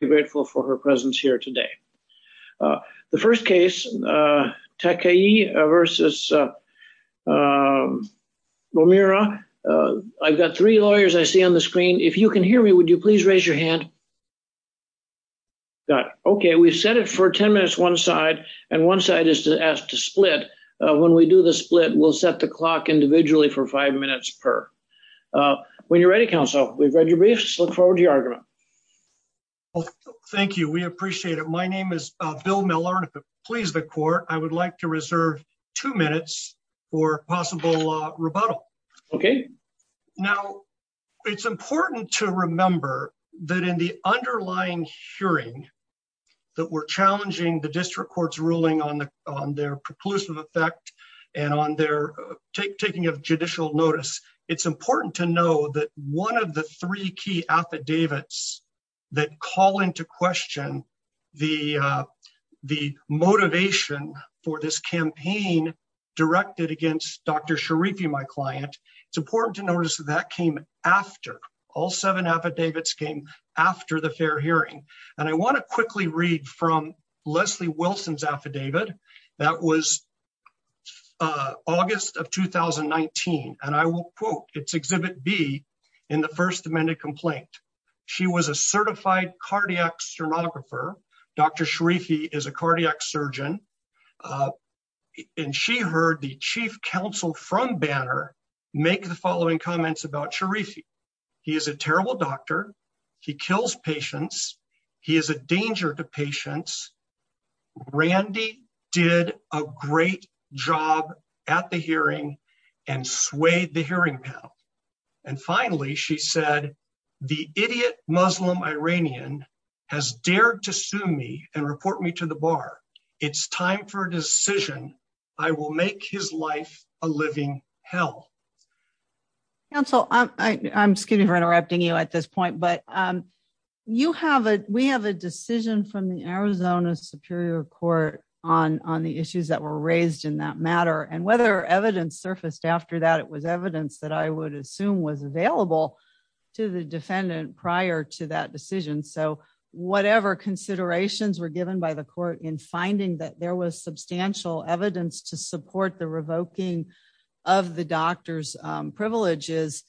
Be grateful for her presence here today. The first case, Takieh v. Romira. I've got three lawyers I see on the screen. If you can hear me, would you please raise your hand? Got it. Okay, we've set it for 10 minutes one side, and one side is to ask to split. When we do the split, we'll set the clock individually for five minutes per. When you're ready, counsel, we've read your briefs, look forward to your argument. Well, thank you. We appreciate it. My name is Bill Miller. Please, the court, I would like to reserve two minutes for possible rebuttal. Okay. Now, it's important to remember that in the underlying hearing that we're challenging the district court's ruling on their preclusive effect and on their taking of judicial notice, it's important to know that one of the three key affidavits that call into question the motivation for this campaign directed against Dr. Sharifi, my client, it's important to notice that came after. All seven affidavits came after the fair hearing. And I want to quickly read from Leslie Wilson's affidavit. That was August of 2019, and I will quote. It's Exhibit B in the first amended complaint. She was a certified cardiac sermographer. Dr. Sharifi is a cardiac surgeon. And she heard the chief counsel from Banner make the following comments about Sharifi. He is a terrible doctor. He kills patients. He is a danger to patients. Randy did a great job at the hearing and swayed the hearing panel. And finally, she said, the idiot Muslim Iranian has dared to sue me and report me to the bar. It's time for a decision. I will make his life a living hell. Counsel, I'm sorry for interrupting you at this point. But we have a decision from the Arizona Superior Court on the issues that were raised in that matter. And whether evidence surfaced after that, it was evidence that I would assume was available to the defendant prior to that decision. So whatever considerations were given by the court in finding that there was substantial evidence to support the revoking of the doctor's privileges,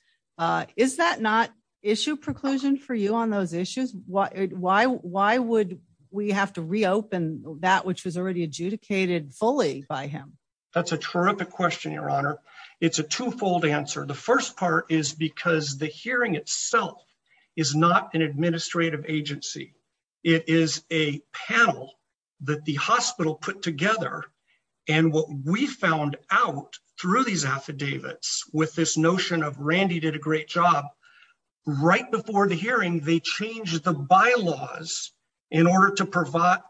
is that not issue preclusion for you on those issues? Why would we have to reopen that which was already adjudicated fully by him? That's a terrific question, Your Honor. It's a twofold answer. The first part is because the hearing itself is not an administrative agency. It is a panel that the hospital put together and what we found out through these affidavits, with this notion of Randy did a great job, right before the hearing, they changed the bylaws in order to prevent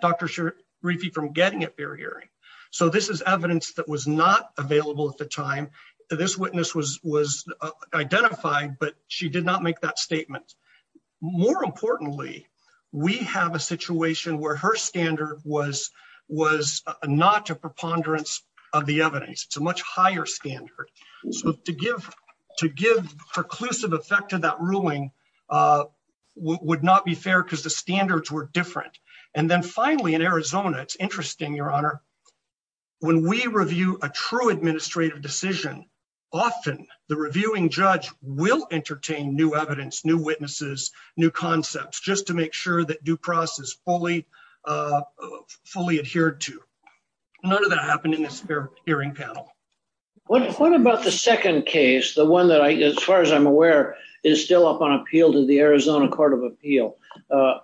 Dr. Shirifi from getting a fair hearing. So this is evidence that was not available at the time. This witness was identified, but she did not make that statement. More importantly, we have a situation where her standard was not a preponderance of the evidence. It's a much higher standard. So to give preclusive effect to that ruling would not be fair because the standards were different. And then finally in Arizona, it's interesting, Your Honor, when we review a true administrative decision, often the reviewing judge will entertain new evidence, new witnesses, new concepts, just to make sure that due process is fully adhered to. None of that happened in this hearing panel. What about the second case? The one that I, as far as I'm aware, is still up on appeal to the Arizona Court of Appeal.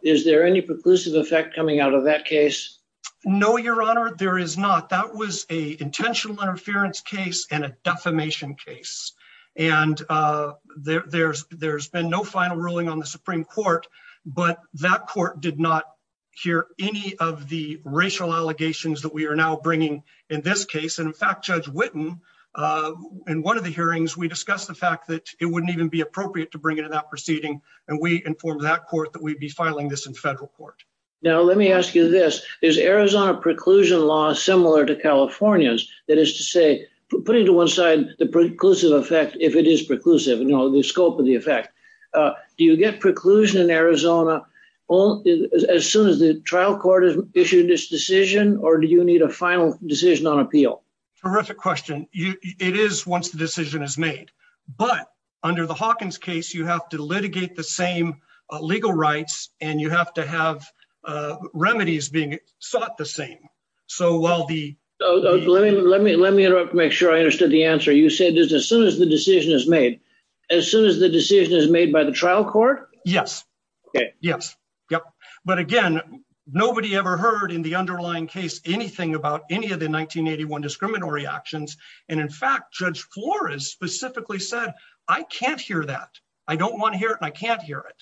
Is there any preclusive effect coming out of that case? No, Your Honor, there is not. That was an intentional interference case and a defamation case. And there's been no final ruling on the Supreme Court, but that court did not hear any of the racial allegations that we are now bringing in this case. And in fact, Judge Whitten, in one of the hearings, we discussed the fact that it wouldn't even be appropriate to bring it to that proceeding. And we informed that court that we'd be filing this in federal court. Now, let me ask you this. Is Arizona preclusion law similar to California's? That is to say, putting to one side the preclusive effect, if it is preclusive, you know, the scope of the effect. Do you get preclusion in Arizona as soon as the trial court has issued this decision, or do you need a final decision on appeal? Terrific question. It is once the decision is made. But under the Hawkins case, you have to litigate the same legal rights and you have to sought the same. Let me interrupt to make sure I understood the answer. You said as soon as the decision is made, as soon as the decision is made by the trial court? Yes. But again, nobody ever heard in the underlying case anything about any of the 1981 discriminatory actions. And in fact, Judge Flores specifically said, I can't hear that. I don't want to hear it. I can't hear it.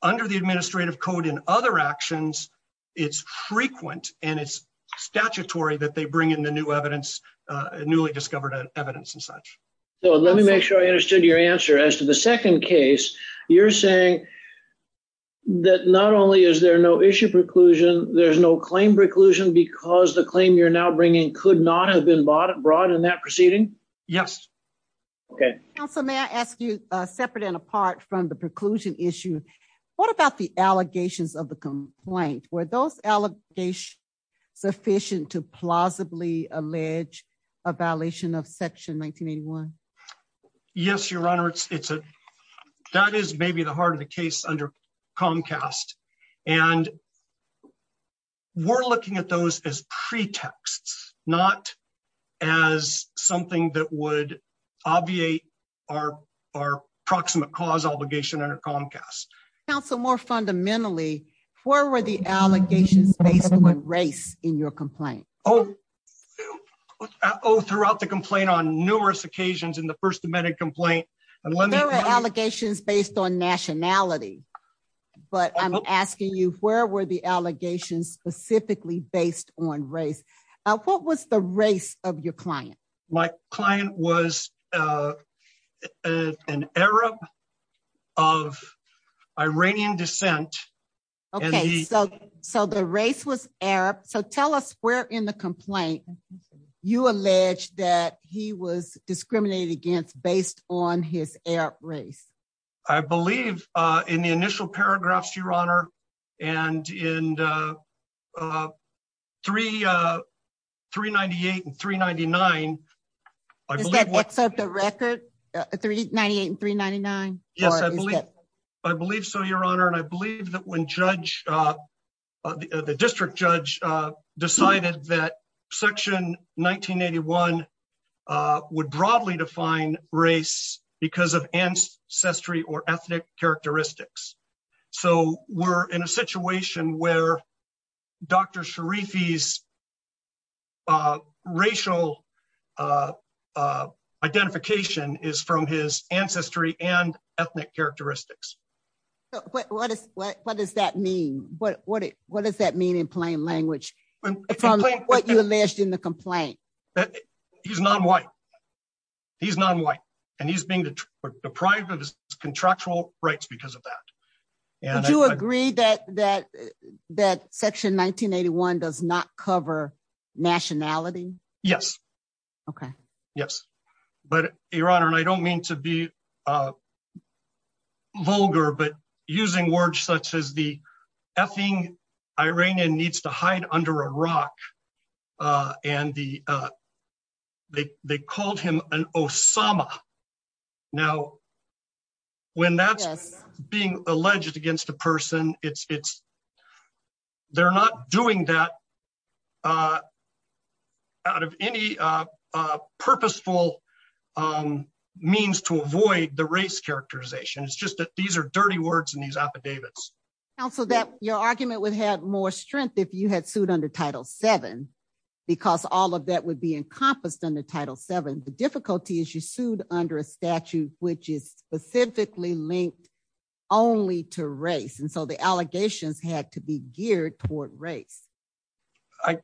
But it's not discriminatory actions. It's frequent and it's statutory that they bring in the new evidence, newly discovered evidence and such. So let me make sure I understood your answer as to the second case. You're saying that not only is there no issue preclusion, there's no claim preclusion because the claim you're now bringing could not have been brought in that proceeding? Yes. Okay. So may I ask you separate and apart from the preclusion issue? What about the allegations of the complaint? Were those allegations sufficient to plausibly allege a violation of section 1981? Yes, Your Honor. That is maybe the heart of the case under Comcast. And we're looking at those as pretexts, not as something that would obviate our proximate cause obligation under Comcast. Counsel, more fundamentally, where were the allegations based on race in your complaint? Oh, throughout the complaint on numerous occasions in the First Amendment complaint. There were allegations based on nationality. But I'm asking you, where were the allegations specifically based on race? What was the race of your client? My client was an Arab of Iranian descent. Okay, so the race was Arab. So tell us where in the complaint you allege that he was discriminated against based on his Arab race? I believe in the initial paragraphs, Your Honor, and in 398 and 399. Does that accept a record? 398 and 399? Yes, I believe so, Your Honor. And I believe that when the district judge decided that section 1981 would broadly define race because of ancestry or ethnic characteristics. So we're in a situation where Dr. Sharifi's racial identification is from his ancestry and ethnic characteristics. So what does that mean? What does that mean in plain language, what you alleged in the complaint? He's non-white. He's non-white. And he's being deprived of his contractual rights because of that. Would you agree that section 1981 does not cover nationality? Yes. Okay. Yes. But Your Honor, and I don't mean to be vulgar, but using words such as the effing Iranian needs to hide under a rock. And they called him an Osama. Now, when that's being alleged against a person, they're not doing that out of any purposeful means to avoid the race characterization. It's just that these are dirty words in these affidavits. Counsel, your argument would have more strength if you had sued under Title VII, because all of that would be encompassed under Title VII. The difficulty is you sued under a statute which is specifically linked only to race. And so the allegations had to be geared toward race.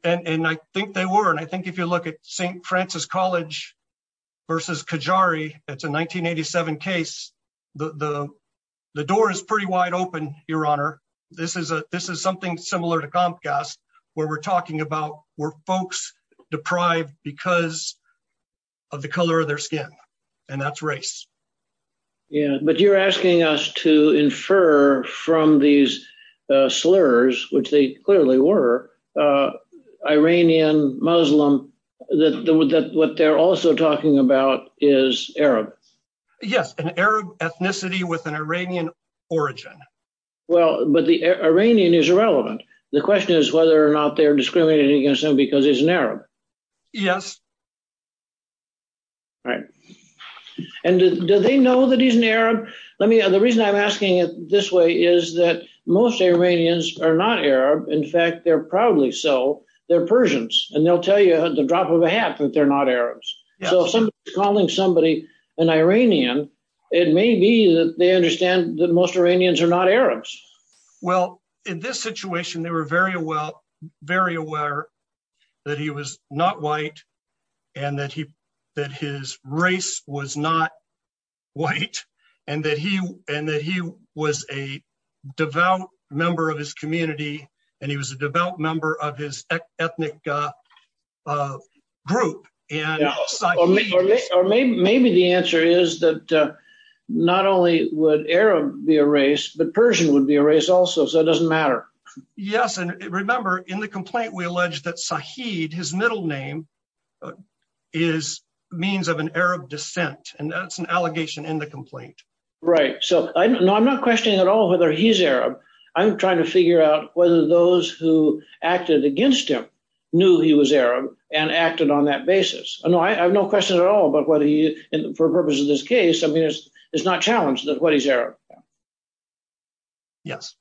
And I think they were. And I think if you look at St. Francis College versus Qajari, it's a 1987 case. The door is pretty wide open, Your Honor. This is something similar to Comcast, where we're talking about were folks deprived because of the color of their skin. And that's race. Yeah. But you're asking us to infer from these slurs, which they clearly were, Iranian Muslim, that what they're also talking about is Arab. Yes, an Arab ethnicity with an Iranian origin. Well, but the Iranian is irrelevant. The question is whether or not they're discriminating against him because he's an Arab. Yes. All right. And do they know that he's an Arab? The reason I'm asking it this way is that most Iranians are not Arab. In fact, they're probably so. They're Persians. And they'll tell you the drop of a hat that they're not Arabs. So if somebody's calling somebody an Iranian, it may be that they understand that most Iranians are not Arabs. Well, in this situation, they were very aware that he was not white, and that his race was not white, and that he was a devout member of his community, and he was a devout member of his ethnic group. Or maybe the answer is that not only would Arab be a race, but Persian would be a race also, so it doesn't matter. Yes. And remember, in the complaint, we allege that Sahid, his middle name, is means of an Arab descent, and that's an allegation in the complaint. Right. So I'm not questioning at all whether he's Arab. I'm trying to figure out whether those who acted against him knew he was Arab and acted on that basis. No, I have no question at all about whether he, for purposes of this case, I mean, it's not challenged that what he's Arab. Yes.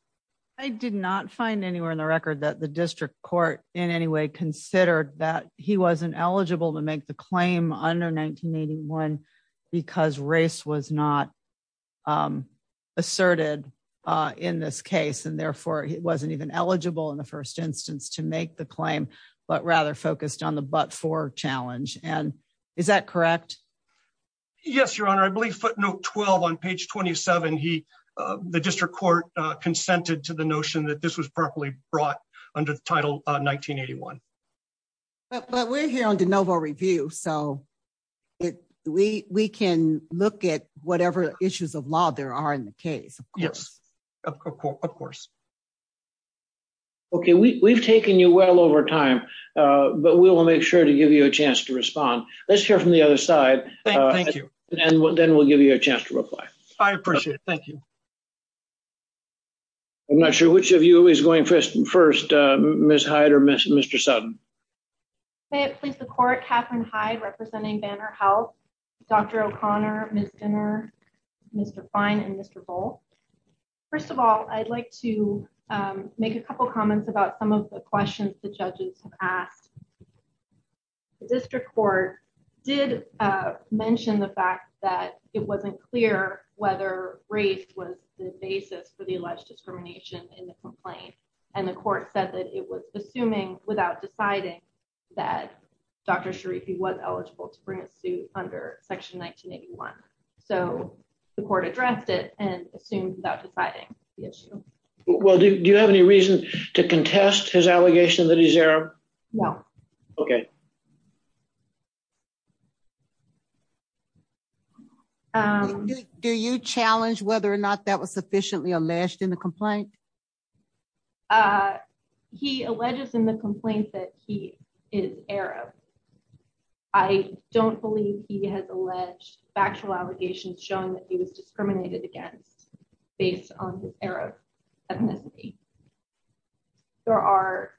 I did not find anywhere in the record that the district court in any way considered that he wasn't eligible to make the claim under 1981 because race was not asserted in this case, and therefore he wasn't even eligible in the first instance to make the claim, but rather focused on the but-for challenge. And is that correct? Yes, Your Honor. I believe footnote 12 on page 27, the district court consented to the notion that this was properly brought under the title 1981. But we're here on de novo review, so we can look at whatever issues of law there are in the case, of course. Yes, of course. Okay, we've taken you well over time, but we will make sure to give you a chance to respond. Let's hear from the other side, and then we'll give you a chance to reply. I appreciate it. Thank you. I'm not sure which of you is going first, Ms. Hyde or Mr. Sutton. May it please the court, Katherine Hyde representing Banner Health, Dr. O'Connor, Ms. Dinner, Mr. Fine, and Mr. Volk. First of all, I'd like to make a couple comments about some of the questions the judges have asked. The district court did mention the fact that it wasn't clear whether race was the basis for the alleged discrimination in the complaint. And the court said that it was assuming without deciding that Dr. Sharifi was eligible to bring a suit under section 1981. So the court addressed it and assumed without deciding the issue. Well, do you have any reason to contest his opinion? Okay. Do you challenge whether or not that was sufficiently alleged in the complaint? He alleges in the complaint that he is Arab. I don't believe he has alleged factual allegations showing that he was discriminated against based on his Arab ethnicity. There are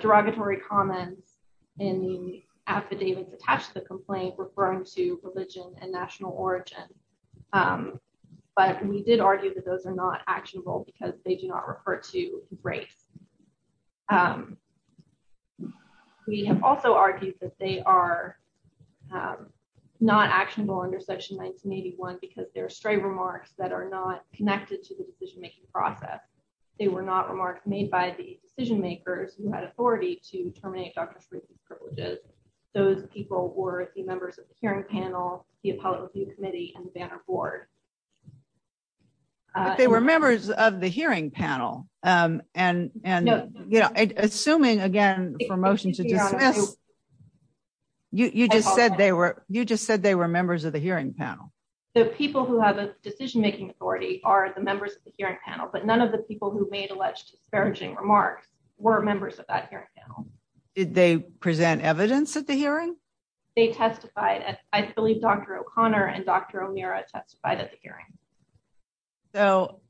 derogatory comments in the affidavits attached to the complaint referring to religion and national origin. But we did argue that those are not actionable because they do not refer to race. We have also argued that they are not actionable under section 1981 because they're remarks that are not connected to the decision-making process. They were not remarks made by the decision-makers who had authority to terminate Dr. Sharifi's privileges. Those people were the members of the hearing panel, the appellate review committee, and the banner board. They were members of the hearing panel. And you know, assuming again for motion to dismiss, you just said they were members of the hearing panel. The people who have a decision-making authority are the members of the hearing panel, but none of the people who made alleged disparaging remarks were members of that hearing panel. Did they present evidence at the hearing? They testified. I believe Dr. O'Connor and Dr. O'Meara testified at the hearing. So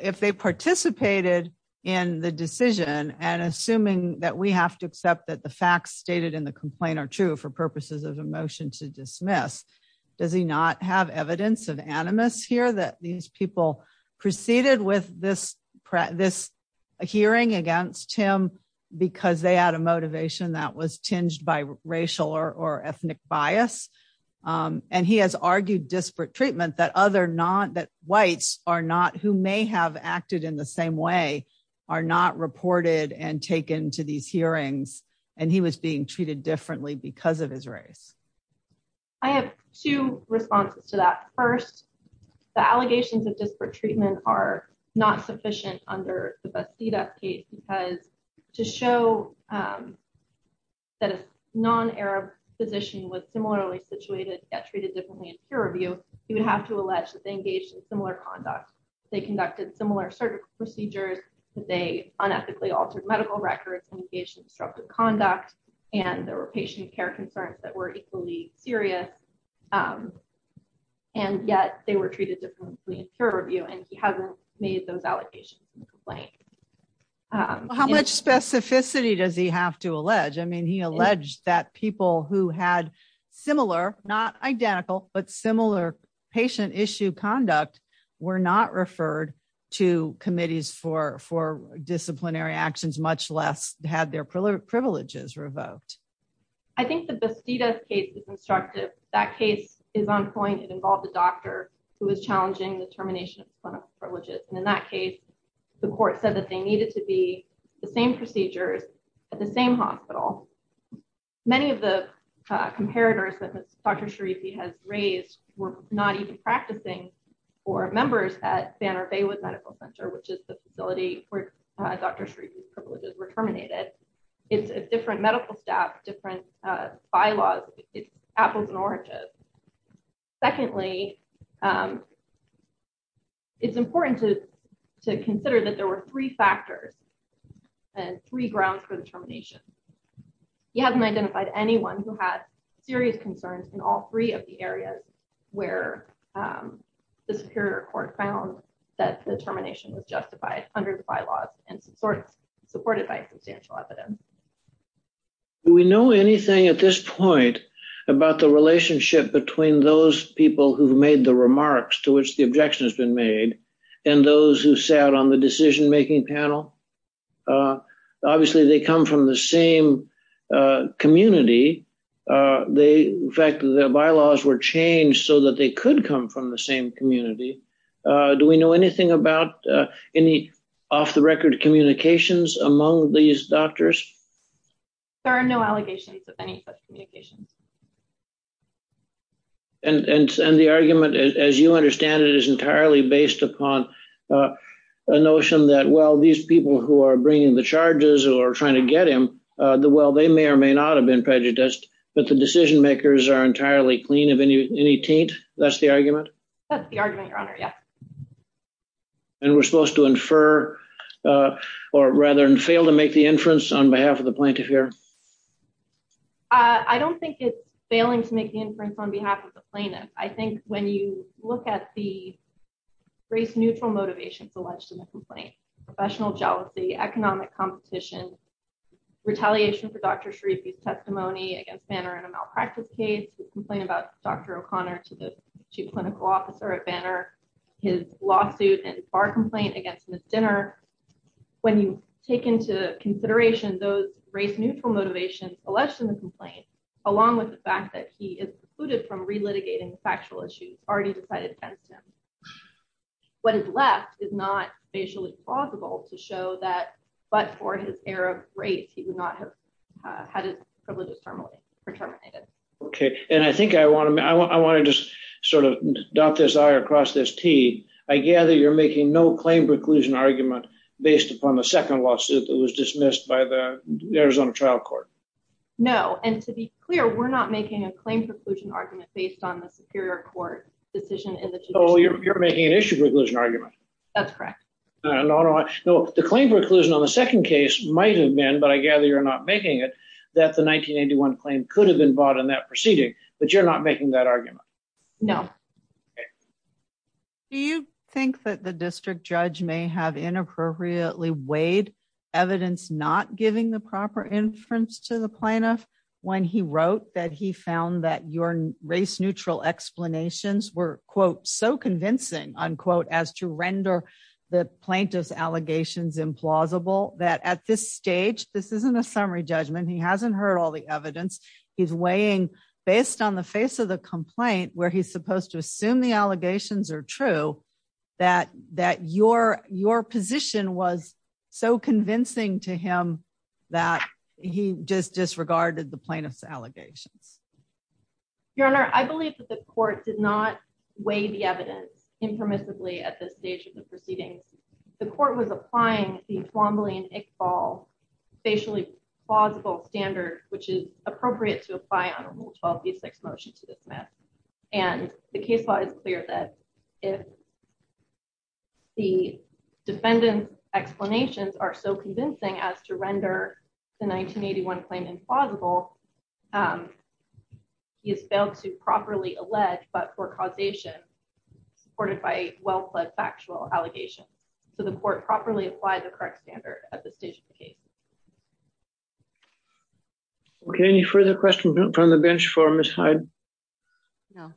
if they participated in the decision and assuming that we have to accept that the facts stated in the complaint are true for purposes of a motion to dismiss, does he not have evidence of animus here that these people proceeded with this hearing against him because they had a motivation that was tinged by racial or ethnic bias? And he has argued disparate treatment that whites who may have acted in the same way are not reported and taken to these hearings and he was being treated differently because of his race. I have two responses to that. First, the allegations of disparate treatment are not sufficient under the Bastida case because to show that a non-Arab physician was similarly situated yet treated differently in peer review, you would have to allege that they engaged in similar conduct. They conducted similar surgical procedures. They unethically altered medical records and engaged in disruptive conduct and there were patient care concerns that were equally serious and yet they were treated differently in peer review and he hasn't made those allegations in the complaint. How much specificity does he have to allege? I mean he alleged that people who had similar, not identical, but similar patient issue conduct were not referred to disciplinary actions much less had their privileges revoked. I think the Bastida case is constructive. That case is on point. It involved a doctor who was challenging the termination of clinical privileges and in that case the court said that they needed to be the same procedures at the same hospital. Many of the comparators that Dr. Sharifi has raised were not even practicing or members at Banner-Baywood Medical Center, which is the facility where Dr. Sharifi's privileges were terminated. It's a different medical staff, different bylaws, it's apples and oranges. Secondly, it's important to consider that there were three factors and three grounds for the termination. He hasn't identified anyone who had serious concerns in all three of the areas where the Superior Court found that the termination was justified under the bylaws and supported by substantial evidence. Do we know anything at this point about the relationship between those people who've made the remarks to which the objection has been made and those who sat on the decision-making panel? Obviously they come from the same community. In fact, the bylaws were changed so that they could come from the same community. Do we know anything about any off-the-record communications among these doctors? There are no allegations of any such communications. And the argument, as you understand it, is entirely based upon a notion that, well, these people who are bringing the charges or trying to get him, they may or may not have prejudiced, but the decision-makers are entirely clean of any taint. That's the argument? That's the argument, Your Honor, yes. And we're supposed to infer or rather fail to make the inference on behalf of the plaintiff here? I don't think it's failing to make the inference on behalf of the plaintiff. I think when you look at the race-neutral motivations alleged in the complaint, professional jealousy, economic competition, retaliation for Dr. Sharifi's testimony against Banner in a malpractice case, the complaint about Dr. O'Connor to the chief clinical officer at Banner, his lawsuit and bar complaint against Ms. Dinner, when you take into consideration those race-neutral motivations alleged in the complaint, along with the fact that he is excluded from relitigating the factual issues already decided against him, what is left is not facially plausible to show but for his error of race, he would not have had his privileges terminated. Okay, and I think I want to just sort of dot this I or cross this T. I gather you're making no claim preclusion argument based upon the second lawsuit that was dismissed by the Arizona trial court? No, and to be clear, we're not making a claim preclusion argument based on the superior court decision in the tradition. Oh, you're making an issue preclusion argument. That's correct. No, no, no, the claim preclusion on the second case might have been, but I gather you're not making it, that the 1981 claim could have been bought in that proceeding, but you're not making that argument? No. Do you think that the district judge may have inappropriately weighed evidence not giving the proper inference to the plaintiff when he wrote that he found that your race-neutral explanations were, quote, so convincing, unquote, as to render the plaintiff's allegations implausible, that at this stage, this isn't a summary judgment, he hasn't heard all the evidence, he's weighing based on the face of the complaint where he's supposed to assume the allegations are true, that your position was so convincing to him that he just disregarded the plaintiff's allegations? Your Honor, I believe that the court did not weigh the evidence impermissibly at this stage of the proceedings. The court was applying the Twombly and Iqbal facially plausible standard, which is appropriate to apply on a Rule 12b6 motion to dismiss, and the case law is clear that if the defendant's explanations are so convincing as to render the 1981 claim implausible, he has failed to properly allege but for causation, supported by a well-plaid factual allegation. So the court properly applied the correct standard at this stage of the case. Okay, any further questions from the bench for Ms. Hyde? No.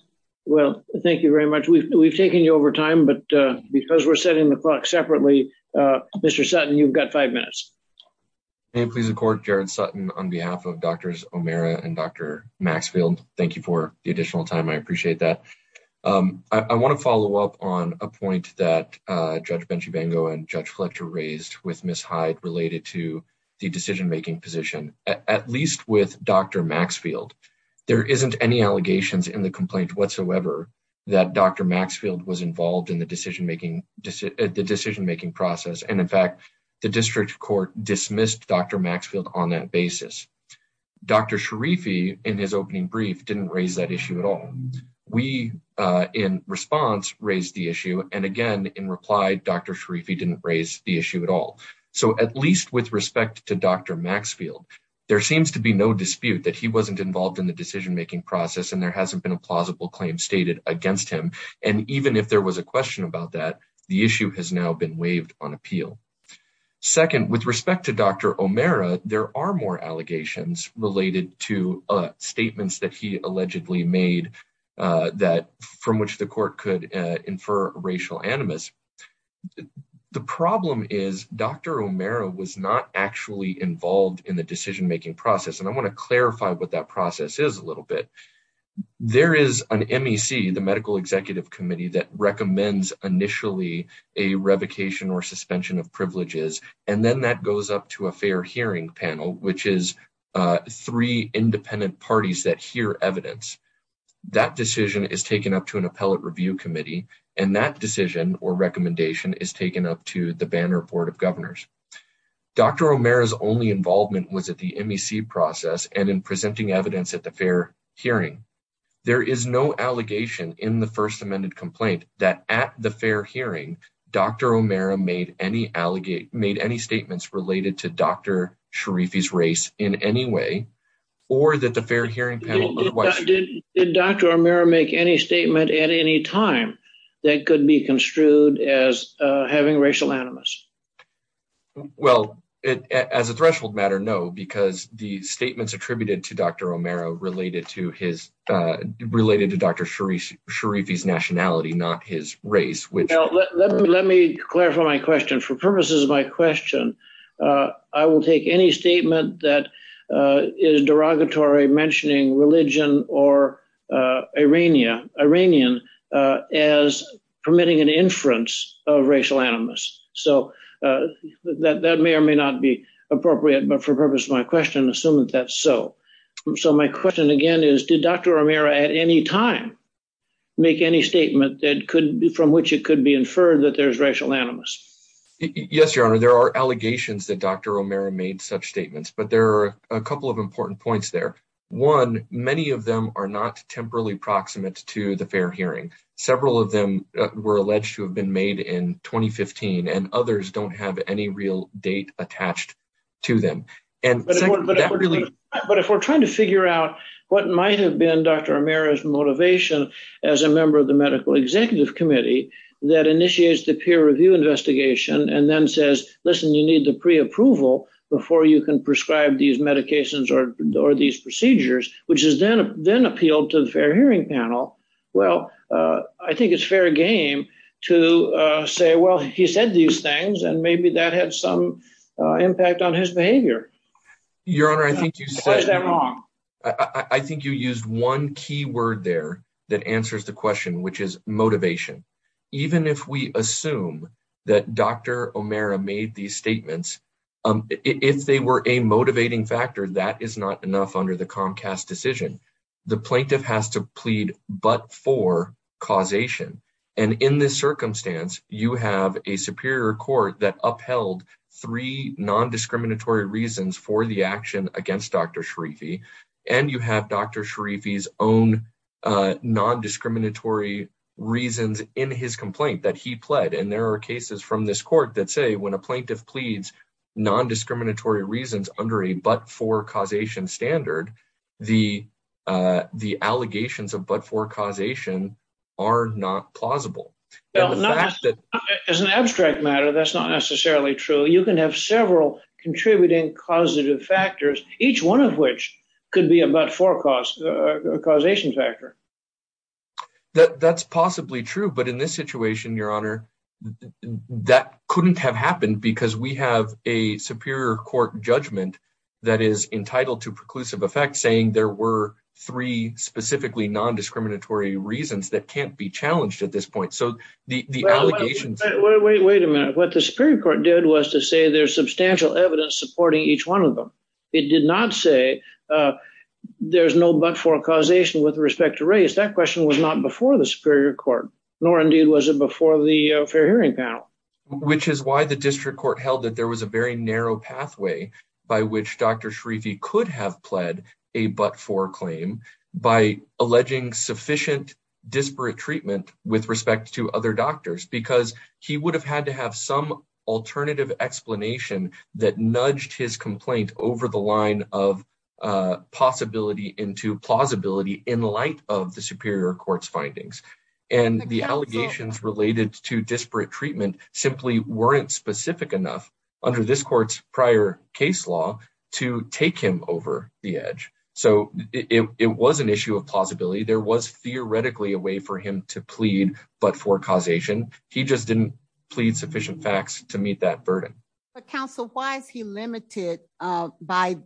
Well, thank you very much. We've taken you over time, but because we're setting the clock separately, Mr. Sutton, you've got five minutes. May it please the court, Jared Sutton, on behalf of Drs. O'Meara and Dr. Maxfield, thank you for the additional time. I appreciate that. I want to follow up on a point that Judge Benchibango and Judge Fletcher raised with Ms. Hyde related to the decision-making position. At least with Dr. Maxfield, there isn't any allegations in the complaint whatsoever that Dr. Maxfield was involved in the decision-making process, and in fact, the district court dismissed Dr. Maxfield on that basis. Dr. Sharifi, in his opening brief, didn't raise that issue at all. We, in response, raised the issue, and again, in reply, Dr. Sharifi didn't raise the issue at all. So at least with respect to Dr. Maxfield, there seems to be no dispute that he wasn't involved in the decision-making process and there hasn't been a against him, and even if there was a question about that, the issue has now been waived on appeal. Second, with respect to Dr. O'Meara, there are more allegations related to statements that he allegedly made from which the court could infer racial animus. The problem is Dr. O'Meara was not actually involved in the decision-making process, and I want to clarify what that process is a an MEC, the Medical Executive Committee, that recommends initially a revocation or suspension of privileges, and then that goes up to a fair hearing panel, which is three independent parties that hear evidence. That decision is taken up to an appellate review committee, and that decision or recommendation is taken up to the Banner Board of Governors. Dr. O'Meara's only involvement was the MEC process and in presenting evidence at the fair hearing. There is no allegation in the first amended complaint that at the fair hearing, Dr. O'Meara made any statements related to Dr. Sharifi's race in any way, or that the fair hearing panel... Did Dr. O'Meara make any statement at any time that could be construed as having racial animus? Well, as a threshold matter, because the statements attributed to Dr. O'Meara related to Dr. Sharifi's nationality, not his race. Let me clarify my question. For purposes of my question, I will take any statement that is derogatory mentioning religion or Iranian as permitting an inference of racial animus. So that may or may not be appropriate, but for purpose of my question, assume that that's so. So my question again is, did Dr. O'Meara at any time make any statement from which it could be inferred that there's racial animus? Yes, Your Honor. There are allegations that Dr. O'Meara made such statements, but there are a couple of important points there. One, many of them are not temporarily proximate to the fair hearing. Several of them were alleged to have been made in 2015, and others don't have any real date attached to them. But if we're trying to figure out what might have been Dr. O'Meara's motivation as a member of the Medical Executive Committee that initiates the peer review investigation and then says, listen, you need the pre-approval before you can prescribe these I think it's fair game to say, well, he said these things and maybe that had some impact on his behavior. Your Honor, I think you said that wrong. I think you used one key word there that answers the question, which is motivation. Even if we assume that Dr. O'Meara made these statements, if they were a motivating factor, that is not enough under the Comcast decision. The plaintiff has to plead but for causation. And in this circumstance, you have a superior court that upheld three non-discriminatory reasons for the action against Dr. Sharifi, and you have Dr. Sharifi's own non-discriminatory reasons in his complaint that he pled. And there are cases from this court that say when a plaintiff pleads non-discriminatory reasons under a but-for causation standard, the allegations of but-for causation are not plausible. As an abstract matter, that's not necessarily true. You can have several contributing causative factors, each one of which could be a but-for causation factor. That's possibly true, but in this situation, Your Honor, that couldn't have happened because we have a superior court judgment that is entitled to preclusive effect, saying there were three specifically non-discriminatory reasons that can't be challenged at this point. So the allegations... Wait a minute. What the superior court did was to say there's substantial evidence supporting each one of them. It did not say there's no but-for causation with respect to race. That question was not before the superior court, nor indeed was it before the fair hearing panel. Which is why the district court held that there was a very narrow pathway by which Dr. Schrieffe could have pled a but-for claim by alleging sufficient disparate treatment with respect to other doctors, because he would have had to have some alternative explanation that nudged his complaint over the line of possibility into plausibility in light of the superior court's simply weren't specific enough under this court's prior case law to take him over the edge. So it was an issue of plausibility. There was theoretically a way for him to plead but-for causation. He just didn't plead sufficient facts to meet that burden. But counsel, why is he limited by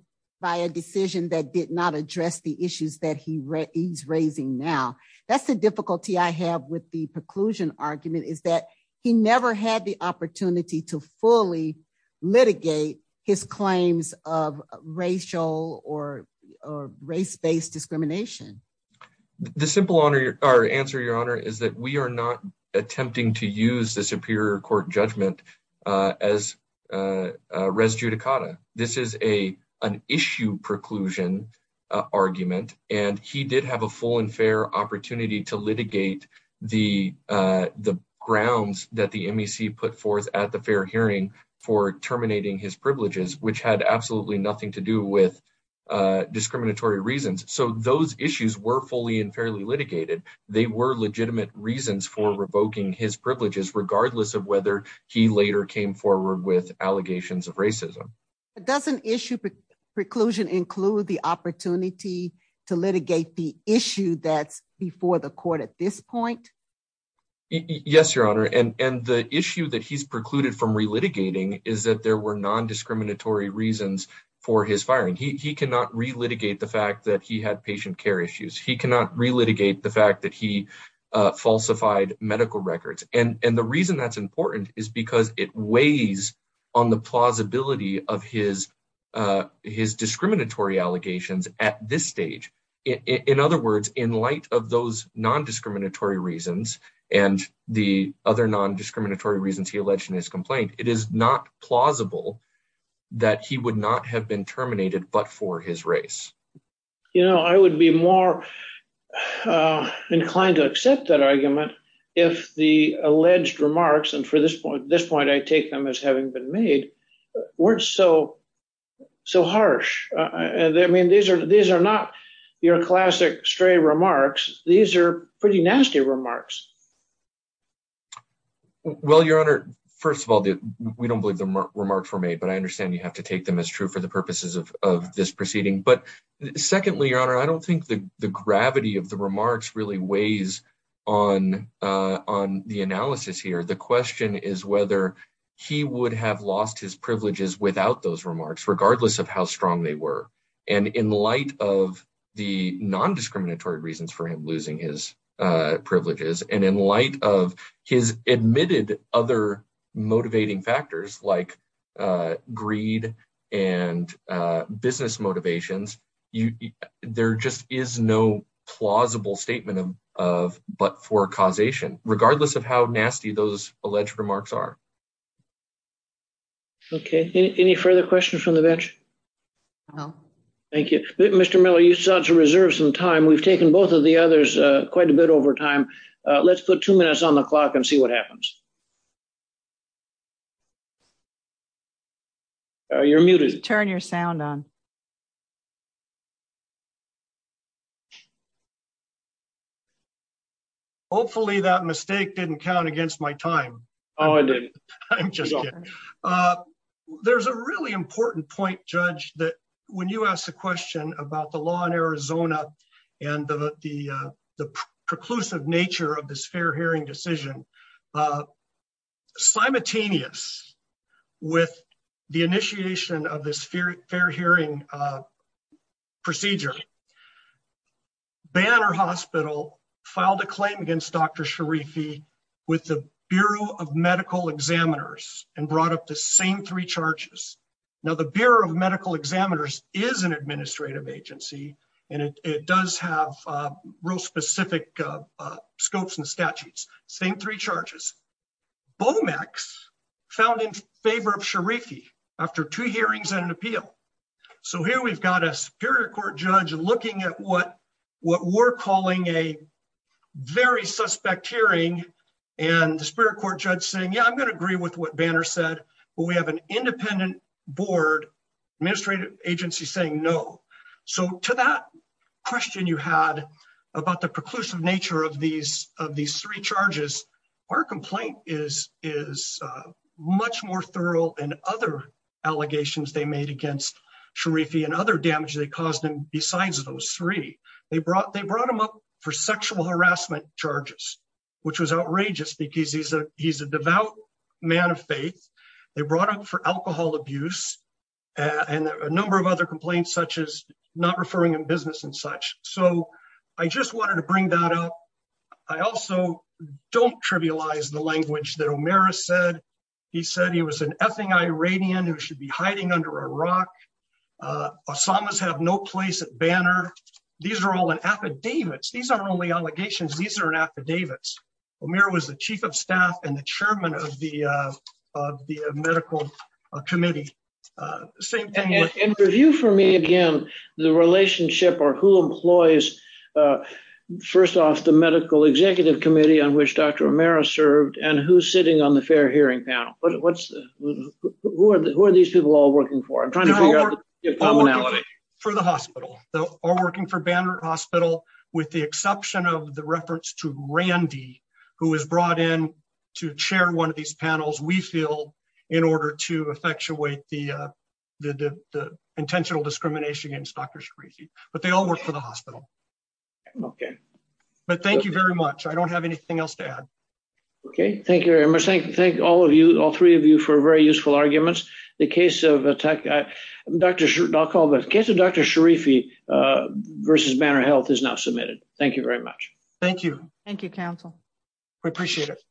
a decision that did not address the issues that he's raising now? That's the difficulty I have with the preclusion argument, is that he never had the opportunity to fully litigate his claims of racial or race-based discrimination. The simple answer, your honor, is that we are not attempting to use the superior court judgment as res judicata. This is an issue preclusion argument, and he did have a full and fair opportunity to litigate the grounds that the MEC put forth at the fair hearing for terminating his privileges, which had absolutely nothing to do with discriminatory reasons. So those issues were fully and fairly litigated. They were legitimate reasons for revoking his with allegations of racism. But doesn't issue preclusion include the opportunity to litigate the issue that's before the court at this point? Yes, your honor. And the issue that he's precluded from relitigating is that there were nondiscriminatory reasons for his firing. He cannot relitigate the fact that he had patient care issues. He cannot relitigate the fact that he falsified medical records. And the reason that's because it weighs on the plausibility of his discriminatory allegations at this stage. In other words, in light of those nondiscriminatory reasons and the other nondiscriminatory reasons he alleged in his complaint, it is not plausible that he would not have been terminated but for his race. You know, I would be more inclined to accept that argument if the alleged remarks, and for this point, I take them as having been made, weren't so harsh. I mean, these are not your classic stray remarks. These are pretty nasty remarks. Well, your honor, first of all, we don't believe the remarks were made, but I understand you have to take them as true for the purposes of this proceeding. But secondly, your honor, I don't think the gravity of the remarks really weighs on the analysis here. The question is whether he would have lost his privileges without those remarks, regardless of how strong they were. And in light of the nondiscriminatory reasons for him losing his privileges, and in light of his admitted other motivating factors like greed and business motivations, there just is no plausible statement of but for causation, regardless of how nasty those alleged remarks are. Okay, any further questions from the bench? No. Thank you. Mr. Miller, you sound to reserve some time. We've taken both of the others quite a bit over time. Let's put two minutes on the clock and see what happens. You're muted. Turn your sound on. Hopefully that mistake didn't count against my time. Oh, I did. I'm just kidding. There's a really important point, Judge, that when you asked the question about the law in Arizona, and the preclusive nature of this fair hearing decision, simultaneous with the initiation of this fair hearing procedure, Banner Hospital filed a claim against Dr. Sharifi with the Bureau of Medical Examiners and brought up the same three charges. Now, the Bureau of Medical Examiners is an administrative agency, and it does have real specific scopes and statutes. Same three charges. Bomex found in favor of Sharifi after two hearings and an appeal. So here we've got a Superior Court judge looking at what we're calling a very suspect hearing, and the Superior Court judge saying, yeah, I'm going to agree with what Board Administrative Agency is saying, no. So to that question you had about the preclusive nature of these three charges, our complaint is much more thorough in other allegations they made against Sharifi and other damage they caused him besides those three. They brought him up for sexual harassment charges, which was outrageous because he's a devout man of faith. They brought up for alcohol abuse and a number of other complaints, such as not referring in business and such. So I just wanted to bring that up. I also don't trivialize the language that O'Meara said. He said he was an Iranian who should be hiding under a rock. Osamas have no place at Banner. These are all in affidavits. These aren't only allegations. These are in affidavits. O'Meara was the Chief of Staff and the Chairman of the Medical Committee. In review for me again, the relationship or who employs, first off, the Medical Executive Committee on which Dr. O'Meara served and who's sitting on the Fair Hearing Panel. Who are these people all working for? I'm trying to figure out the commonality. They're all working for the hospital. They're all working for Banner Hospital, with the exception of the reference to Randy, who was brought in to chair one of these panels, we feel, in order to effectuate the intentional discrimination against Dr. Sharifi. But they all work for the hospital. Okay. But thank you very much. I don't have anything else to add. Okay. Thank you very much. Thank all of you, all three of you, for very Banner Health is now submitted. Thank you very much. Thank you. Thank you, Council. We appreciate it.